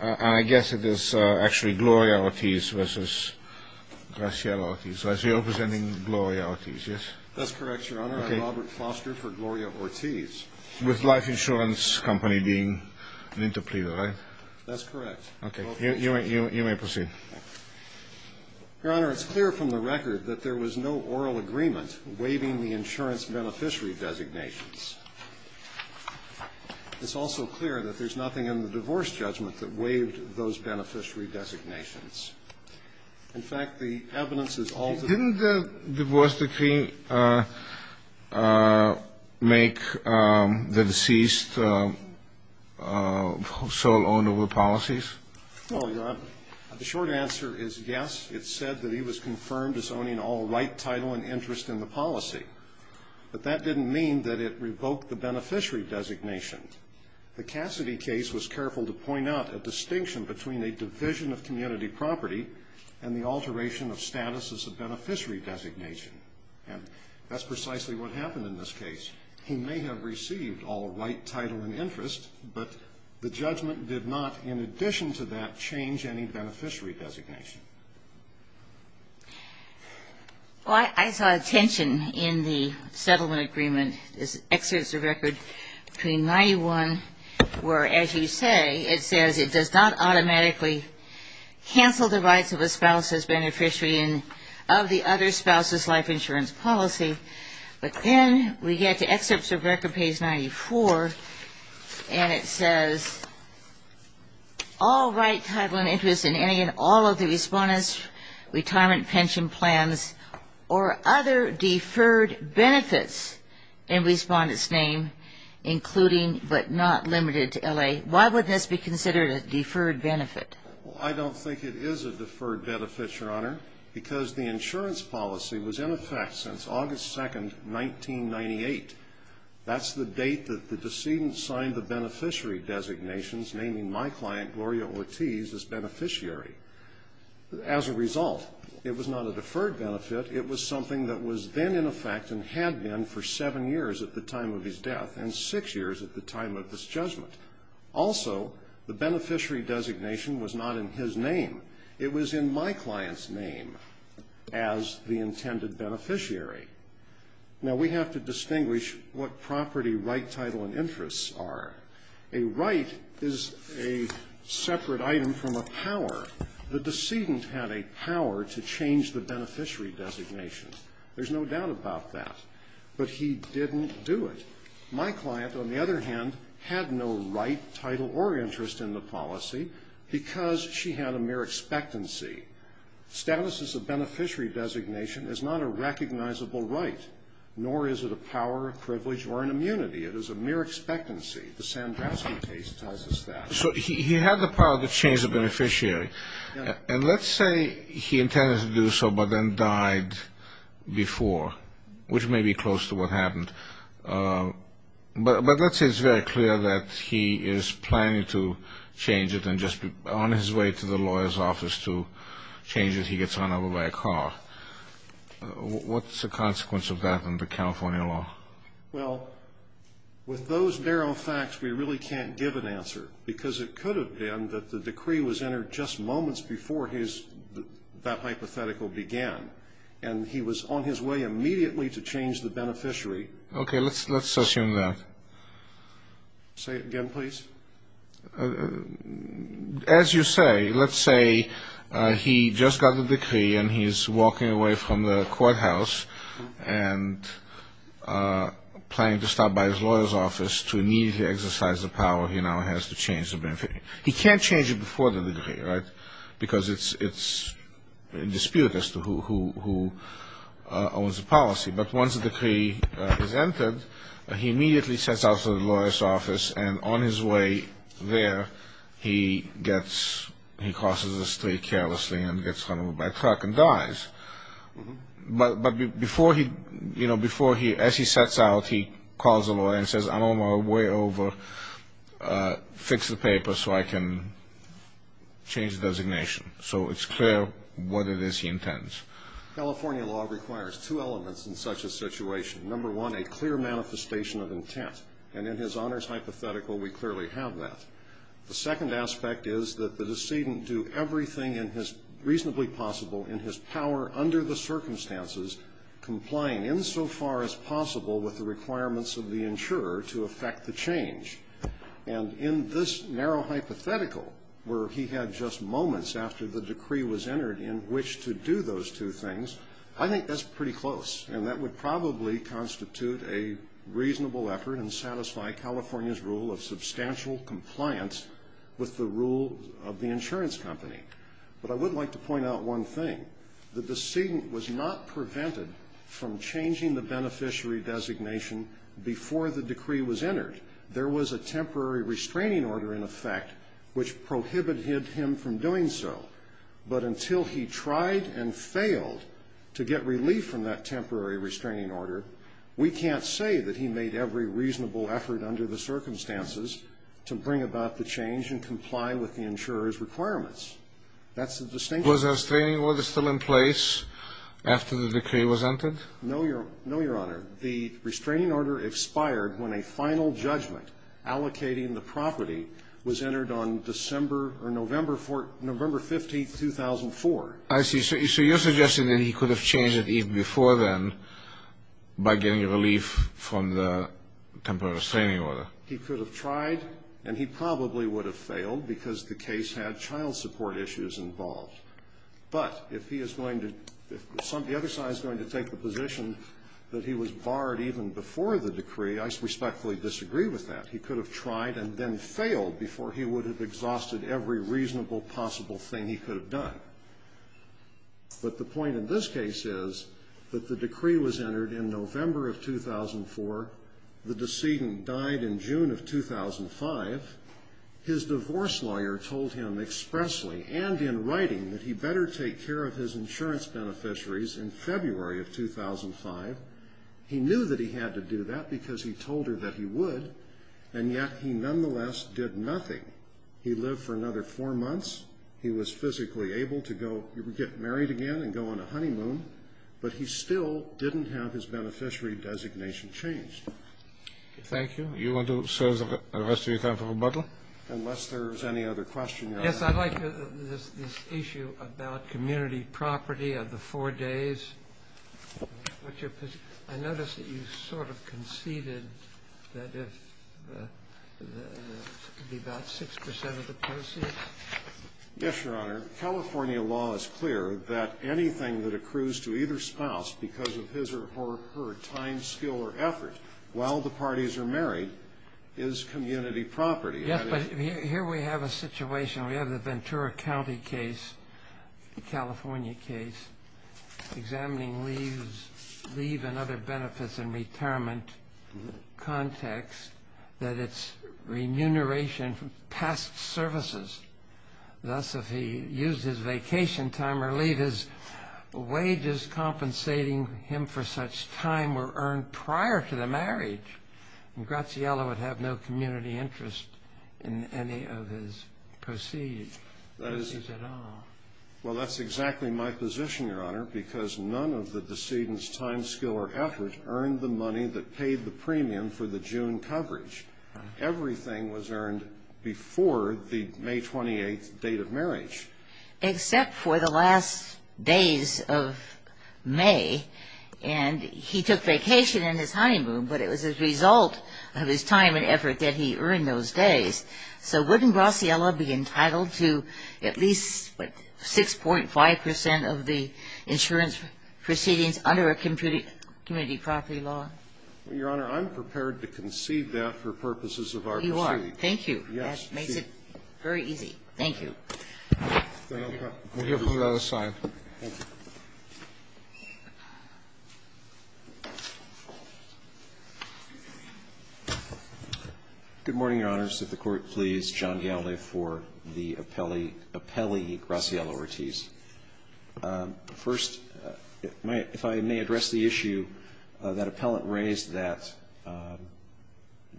I guess it is actually Gloria Ortiz versus Graciela Ortiz. So you're representing Gloria Ortiz, yes? That's correct, Your Honor. I'm Robert Foster for Gloria Ortiz. With Life Insurance Company being an interpreter, right? That's correct. Okay, you may proceed. Your Honor, it's clear from the record that there was no oral agreement waiving the insurance beneficiary designations. In fact, the evidence is... Didn't the divorce decree make the deceased sole owner of the policies? No, Your Honor. The short answer is yes. It said that he was confirmed as owning all right, title, and interest in the policy. But that didn't mean that it revoked the beneficiary designation. The Cassidy case was careful to point out a distinction between a division of community property and the alteration of status as a beneficiary designation. And that's precisely what happened in this case. He may have received all right, title, and interest, but the judgment did not, in addition to that, change any beneficiary designation. Well, I saw a tension in the settlement agreement. This excerpts the record between 91, where as you say, it says it does not automatically cancel the rights of a spouse as beneficiary of the other spouse's life insurance policy. But then we get to excerpts of record page 94, and it says, all right, title, and interest, and again, all rights of the spouse's life insurance policy. And then it says, all right, title, and interest, all of the respondent's retirement pension plans, or other deferred benefits in respondent's name, including but not limited to L.A. Why would this be considered a deferred benefit? Well, I don't think it is a deferred benefit, Your Honor, because the insurance policy was in effect since August 2nd, 1998. That's the date that the decedent signed the beneficiary designations, naming my client, Gloria Ortiz, as beneficiary. As a result, it was not a deferred benefit. It was something that was then in effect and had been for seven years at the time of his death, and six years at the time of this judgment. Also, the beneficiary designation was not in his name. It was in my client's name as the intended beneficiary. Now, we have to distinguish what property right, title, and interests are. A right is a separate item from a power. The decedent had a power to change the beneficiary designation. There's no doubt about that. But he didn't do it. My client, on the other hand, had no right, title, or interest in the policy because she had a mere expectancy. Status as a beneficiary designation is not a recognizable right, nor is it a power, a privilege, or an immunity. It is a mere expectancy. The Sandrowski case tells us that. So he had the power to change the beneficiary. And let's say he intended to do so but then died before, which may be close to what happened. But let's say it's very clear that he is planning to change it and just on his way to the lawyer's office to change it, he gets run over by a car. What's the consequence of that under California law? Well, with those narrow facts, we really can't give an answer because it could have been that the decree was entered just moments before that hypothetical began. And he was on his way immediately to change the beneficiary. Okay. Let's assume that. Say it again, please. As you say, let's say he just got the decree and he's walking away from the courthouse and planning to stop by his lawyer's office to immediately exercise the power he now has to change the beneficiary. He can't change it before the decree, right, because it's in dispute as to who owns the policy. But once the decree is entered, he immediately sets out to the lawyer's office and on his way there, he crosses the street carelessly and gets run over by a truck and dies. But before he, as he sets out, he calls the lawyer and says, I'm on my way over. Fix the paper so I can change the designation. So it's clear what it is he intends. California law requires two elements in such a situation. Number one, a clear manifestation of intent. And in his honors hypothetical, we clearly have that. The second aspect is that the decedent do everything reasonably possible in his power under the circumstances complying insofar as possible with the requirements of the insurer to effect the change. And in this narrow hypothetical where he had just moments after the decree was entered in which to do those two things, I think that's pretty close. And that would probably constitute a reasonable effort and satisfy California's rule of substantial compliance with the rule of the insurance company. But I would like to point out one thing. The decedent was not prevented from changing the beneficiary designation before the decree was entered. There was a temporary restraining order in effect which prohibited him from doing so. But until he tried and failed to get relief from that temporary restraining order, we can't say that he made every reasonable effort under the circumstances to bring about the change and comply with the insurer's requirements. That's the distinction. Was a restraining order still in place after the decree was entered? No, Your Honor. The restraining order expired when a final judgment allocating the property was entered on December or November 15, 2004. I see. So you're suggesting that he could have changed it even before then by getting relief from the temporary restraining order. He could have tried, and he probably would have failed because the case had child support issues involved. But if he is going to, if the other side is going to take the position that he was barred even before the decree, I respectfully disagree with that. He could have tried and then failed before he would have exhausted every reasonable possible thing he could have done. But the point of this case is that the decree was entered in November of 2004. The decedent died in June of 2005. His divorce lawyer told him expressly and in writing that he better take care of his insurance beneficiaries in February of 2005. He knew that he had to do that because he told her that he would, and yet he nonetheless did nothing. He lived for another four months. He was physically able to go get married again and go on a honeymoon, but he still didn't have his beneficiary designation changed. Thank you. You want to serve the rest of your time for rebuttal? Unless there's any other question, Your Honor. Yes, I'd like this issue about community property of the four days. I notice that you sort of conceded that it could be about 6% of the proceeds. Yes, Your Honor. California law is clear that anything that accrues to either spouse because of his or her time, skill, or effort while the parties are married is community property. Yes, but here we have a situation. We have the Ventura County case, the California case examining leave and other benefits in retirement context that it's remuneration from past services. Thus, if he used his vacation time or leave, his wages compensating him for such time were earned prior to the marriage, and Graziella would have no community interest in any of his proceeds at all. Well, that's exactly my position, Your Honor, because none of the decedent's time, skill, or effort earned the money that paid the premium for the June coverage. Everything was earned before the May 28th date of marriage. Except for the last days of May, and he took vacation in his honeymoon, but it was a result of his time and effort that he earned those days. So wouldn't Graziella be entitled to at least 6.5 percent of the insurance proceedings under a community property law? Well, Your Honor, I'm prepared to concede that for purposes of our proceedings. You are. Thank you. That makes it very easy. Thank you. We'll hear from the other side. Thank you. Good morning, Your Honors. If the Court please, John Galle for the appellee, appellee Graziella Ortiz. First, if I may address the issue that appellant raised, that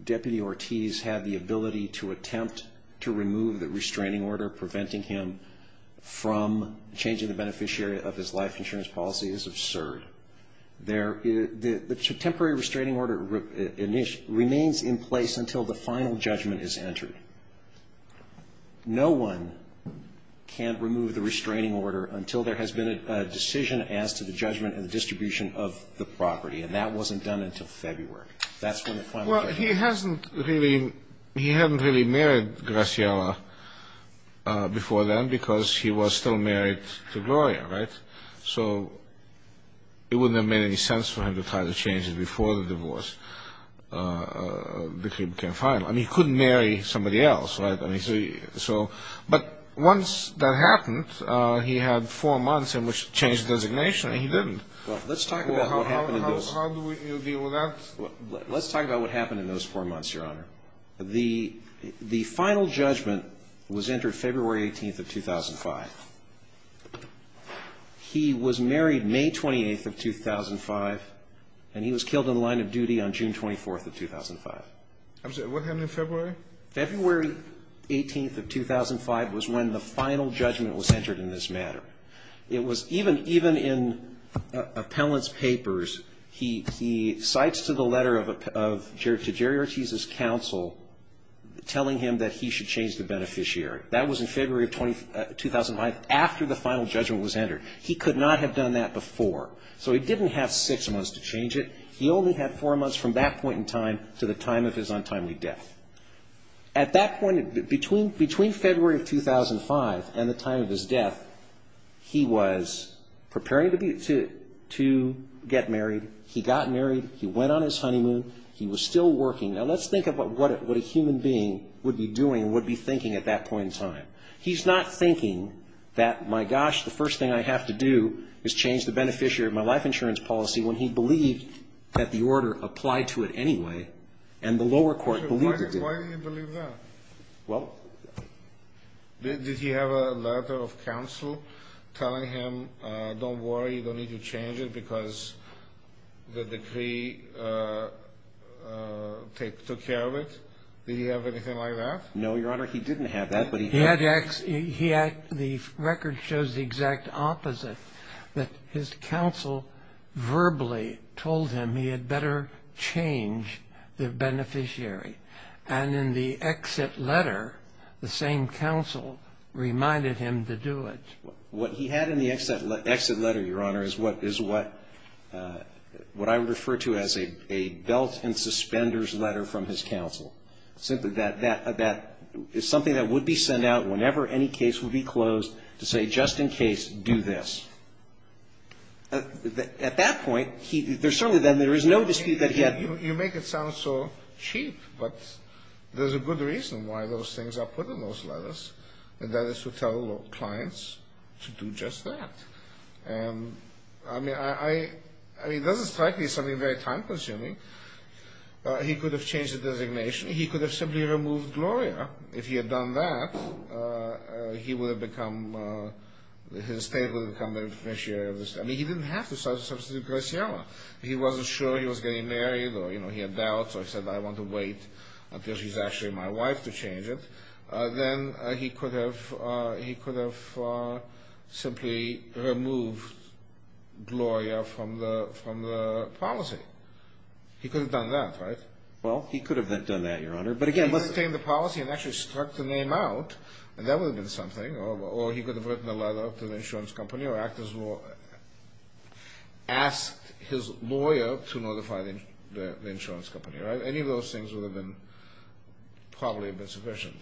Deputy Ortiz had the ability to attempt to remove the restraining order preventing him from changing the beneficiary of his life insurance. That's absurd. The temporary restraining order remains in place until the final judgment is entered. No one can remove the restraining order until there has been a decision as to the judgment and the distribution of the property, and that wasn't done until February. Well, he hadn't really married Graziella before then because he was still married to Gloria, right? So it wouldn't have made any sense for him to try to change it before the divorce became final. I mean, he couldn't marry somebody else, right? But once that happened, he had four months in which to change the designation, and he didn't. Well, let's talk about what happened in those four months, Your Honor. The final judgment was entered February 18th of 2005. He was married May 28th of 2005, and he was killed in the line of duty on June 24th of 2005. What happened in February? February 18th of 2005 was when the final judgment was entered in this matter. It was even in appellant's papers, he cites to the letter to Jerry Ortiz's counsel, telling him that he should change the beneficiary. That was in February of 2005, after the final judgment was entered. He could not have done that before, so he didn't have six months to change it. He only had four months from that point in time to the time of his untimely death. Between February of 2005 and the time of his death, he was preparing to get married. He got married, he went on his honeymoon, he was still working. Now, let's think about what a human being would be doing and would be thinking at that point in time. He's not thinking that, my gosh, the first thing I have to do is change the beneficiary of my life insurance policy, when he believed that the order applied to it anyway, and the lower court believed it did. Why did he believe that? Did he have a letter of counsel telling him, don't worry, you don't need to change it because the decree took care of it? Did he have anything like that? No, Your Honor, he didn't have that. The record shows the exact opposite, that his counsel verbally told him he had better change the beneficiary, and in the exit letter, the same counsel reminded him to do it. What he had in the exit letter, Your Honor, is what I would refer to as a belt and suspenders letter from his counsel. It's something that would be sent out whenever any case would be closed to say, just in case, do this. At that point, there's certainly then, there is no dispute that he had You make it sound so cheap, but there's a good reason why those things are put in those letters, and that is to tell clients to do just that. I mean, it doesn't strike me as something very time consuming. He could have changed the designation. He could have simply removed Gloria. If he had done that, he would have become, his state would have become the beneficiary of this. I mean, he didn't have to substitute Gloria. He wasn't sure he was getting married, or he had doubts, or said, I want to wait until she's actually my wife to change it. Then he could have simply removed Gloria from the policy. He could have done that, right? He could have retained the policy and actually struck the name out, and that would have been something. Or he could have written a letter to the insurance company or asked his lawyer to notify the insurance company. Any of those things would have been, probably, been sufficient.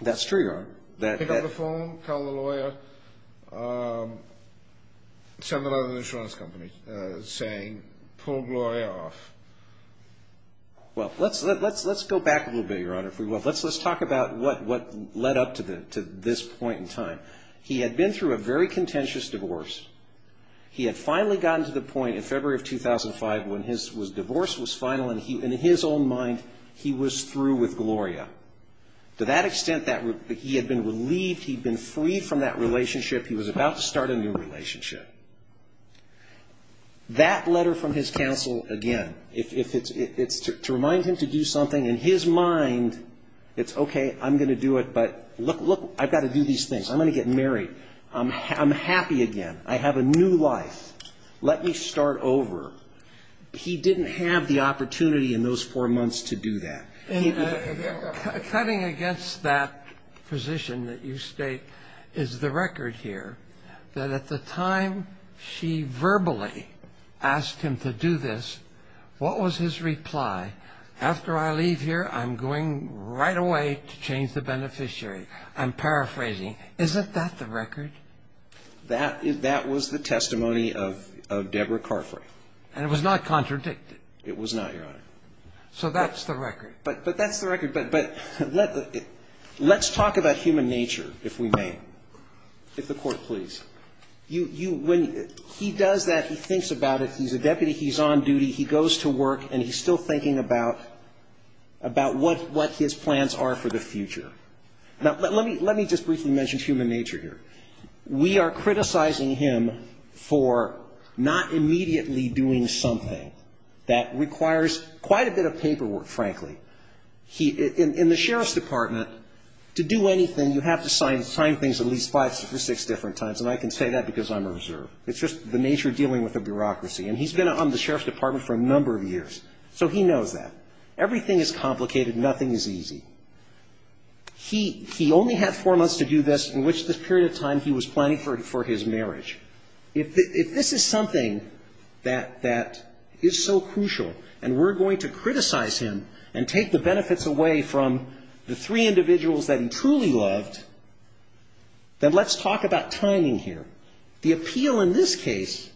That's true, Your Honor. Pick up the phone, call the lawyer, send a letter to the insurance company saying, pull Gloria off. Well, let's go back a little bit, Your Honor, if we will. Let's talk about what led up to this point in time. He had been through a very contentious divorce. He had finally gotten to the point where he had been relieved, he'd been freed from that relationship. He was about to start a new relationship. That letter from his counsel, again, it's to remind him to do something. In his mind, it's, okay, I'm going to do it, but look, I've got to do these things. I'm going to get married. I'm happy again. I have a new life. Let me start over. He didn't have the opportunity in those four months to do that. Cutting against that position that you state is the record here, that at the time she verbally asked him to do this, what was his reply? After I leave here, I'm going right away to change the beneficiary. I'm paraphrasing. Isn't that the record? That was the testimony of Deborah Carfrae. And it was not contradicted. It was not, Your Honor. So that's the record. But that's the record. But let's talk about human nature, if we may. If the Court please. When he does that, he thinks about it, he's a deputy, he's on duty, he goes to work, and he's still thinking about what his plans are for the future. Now, let me just briefly mention human nature here. We are criticizing him for not immediately doing something that requires quite a bit of paperwork, frankly. In the Sheriff's Department, to do anything, you have to sign things at least five or six different times, and I can say that because I'm a reserve. It's just the nature of dealing with a bureaucracy, and he's been on the Sheriff's Department for a number of years, so he knows that. Everything is complicated. Nothing is easy. He only had four months to do this in which this period of time he was planning for his marriage. If this is something that is so crucial, and we're going to criticize him and take the benefits away from the three individuals that he truly loved, then let's talk about timing here. The appeal in this case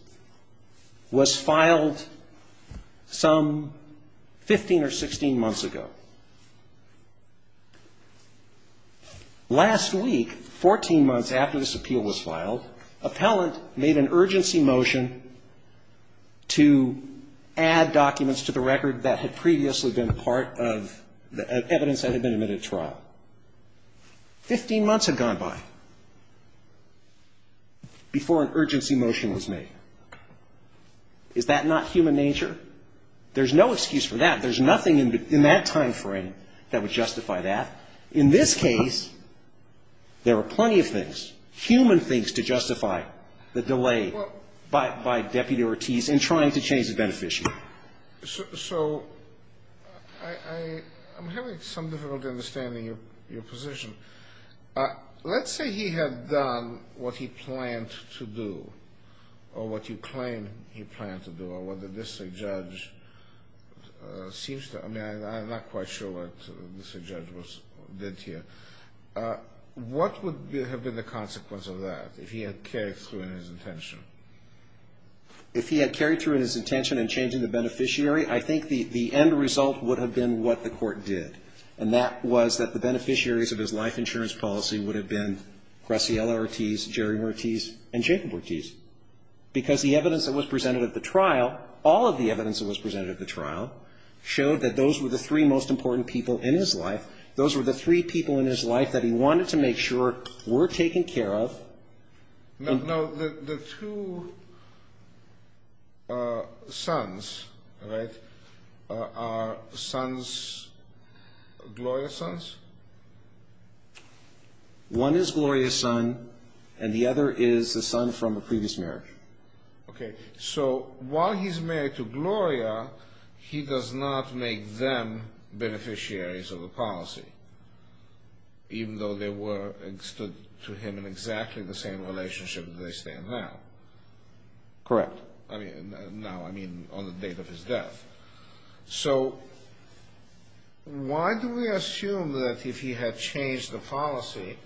was filed some 15 or 16 months ago. Last week, 14 months after this appeal was filed, appellant made an urgency motion to add documents to the record that had previously been part of evidence that had been admitted to trial. 15 months had gone by before an urgency motion was made. Is that not human nature? There's no excuse for that. There's nothing in that timeframe that would justify that. In this case, there are plenty of things, human things to justify the delay by Deputy Ortiz in trying to change the beneficiary. So I'm having some difficulty understanding your position. Let's say he had done what he planned to do, or what you claim he planned to do, or what the district judge seems to have done. I'm not quite sure what the district judge did here. What would have been the consequence of that if he had carried through in his intention? If he had carried through in his intention in changing the beneficiary, I think the end result would have been what the court did, and that was that the beneficiaries of his life insurance policy would have been Graciela Ortiz, Jerry Ortiz, and Jacob Ortiz, because the evidence that was presented at the trial, all of the evidence that was presented at the trial, showed that those were the three most important people in his life. Those were the three people in his life that he wanted to make sure were taken care of. Now, the two sons, right, are sons, Gloria's sons? One is Gloria's son, and the other is the son from a previous marriage. Okay. So while he's married to Gloria, he does not make them beneficiaries of the policy. Even though they were and stood to him in exactly the same relationship as they stand now. Correct. Now, I mean on the date of his death. So why do we assume that if he had changed the policy,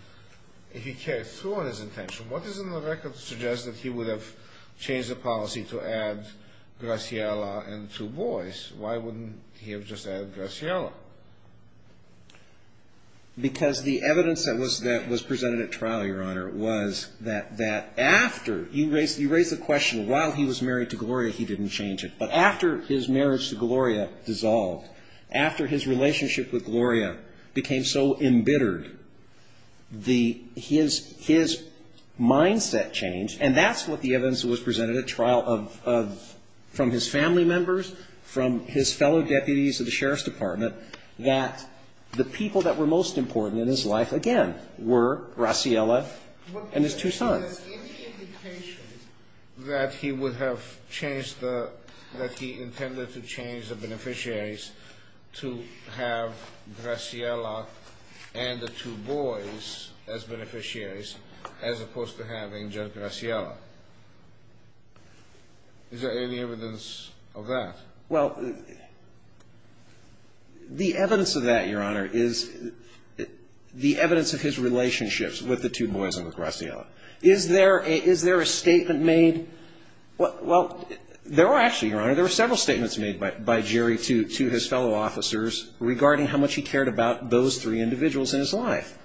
if he carried through in his intention, what is in the record to suggest that he would have changed the policy to add Graciela and two boys? Why wouldn't he have just added Graciela? Because the evidence that was presented at trial, Your Honor, was that after, you raise the question, while he was married to Gloria, he didn't change it. But after his marriage to Gloria dissolved, after his relationship with Gloria became so embittered, his mindset changed, and that's what the evidence that was presented at trial, from his family members, from his fellow deputies of the Sheriff's Department, that the people that were most important in his life, again, were Graciela and his two sons. What does this give the indication that he would have changed the, that he intended to change the beneficiaries to have Graciela and the two boys as beneficiaries, as opposed to having just Graciela? Is there any evidence of that? Well, the evidence of that, Your Honor, is the evidence of his relationships with the two boys and with Graciela. Is there a statement made? Well, there were actually, Your Honor, there were several statements made by Jerry to his fellow officers regarding how much he cared about those three individuals in his life,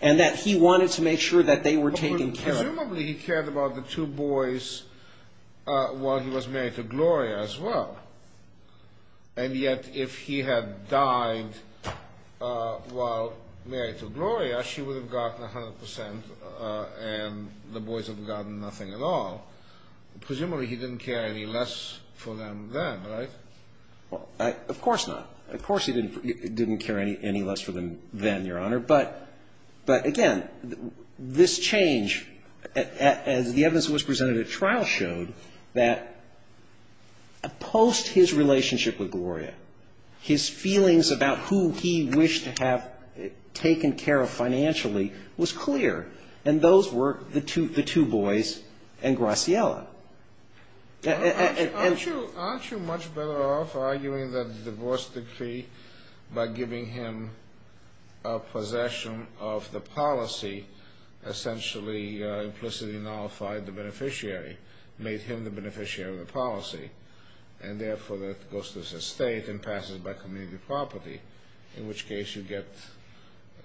and that he wanted to make sure that they were taken care of. But presumably he cared about the two boys while he was married to Gloria as well. And yet, if he had died while married to Gloria, she would have gotten 100 percent, and the boys would have gotten nothing at all. Presumably he didn't care any less for them then, right? Of course not. Of course he didn't care any less for them then, Your Honor. But, again, this change, as the evidence that was presented at trial showed, that post his relationship with Gloria, his feelings about who he wished to have taken care of financially was clear, and those were the two boys and Graciela. Aren't you much better off arguing that the divorce decree, by giving him possession of the policy, essentially implicitly nullified the beneficiary, made him the beneficiary of the policy, and therefore that goes to his estate and passes by community property, in which case you get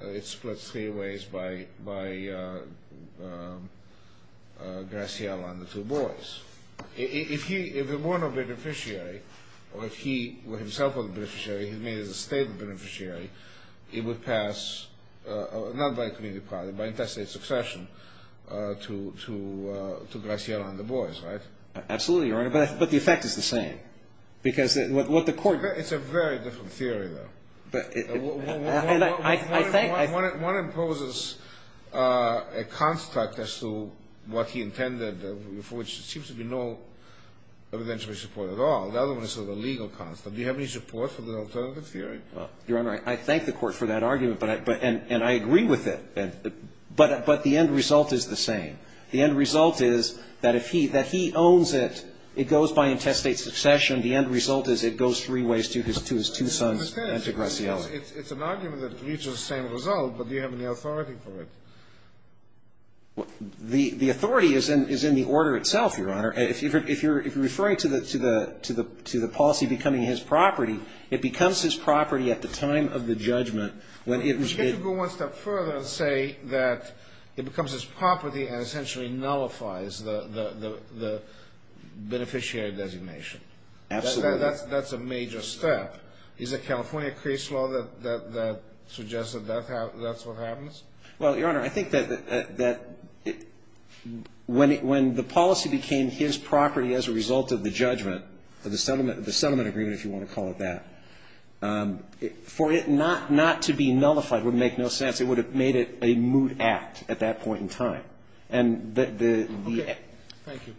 it split three ways by Graciela and the two boys. If he were not a beneficiary, or if he himself was a beneficiary, he was a state beneficiary, it would pass, not by community property, by interstate succession to Graciela and the boys, right? Absolutely, Your Honor, but the effect is the same. It's a very different theory, though. One imposes a construct as to what he intended, for which there seems to be no evidentiary support at all. The other one is sort of a legal construct. Do you have any support for the alternative theory? Your Honor, I thank the Court for that argument, and I agree with it. But the end result is the same. The end result is that if he owns it, it goes by interstate succession. The end result is it goes three ways to his two sons and to Graciela. It's an argument that reaches the same result, but do you have any authority for it? The authority is in the order itself, Your Honor. If you're referring to the policy becoming his property, it becomes his property at the time of the judgment. You get to go one step further and say that it becomes his property and essentially nullifies the beneficiary designation. Absolutely. That's a major step. Is it California case law that suggests that that's what happens? Well, Your Honor, I think that when the policy became his property as a result of the judgment, the settlement agreement, if you want to call it that, for it not to be nullified would make no sense. It would have made it a moot act at that point in time. Okay. Thank you.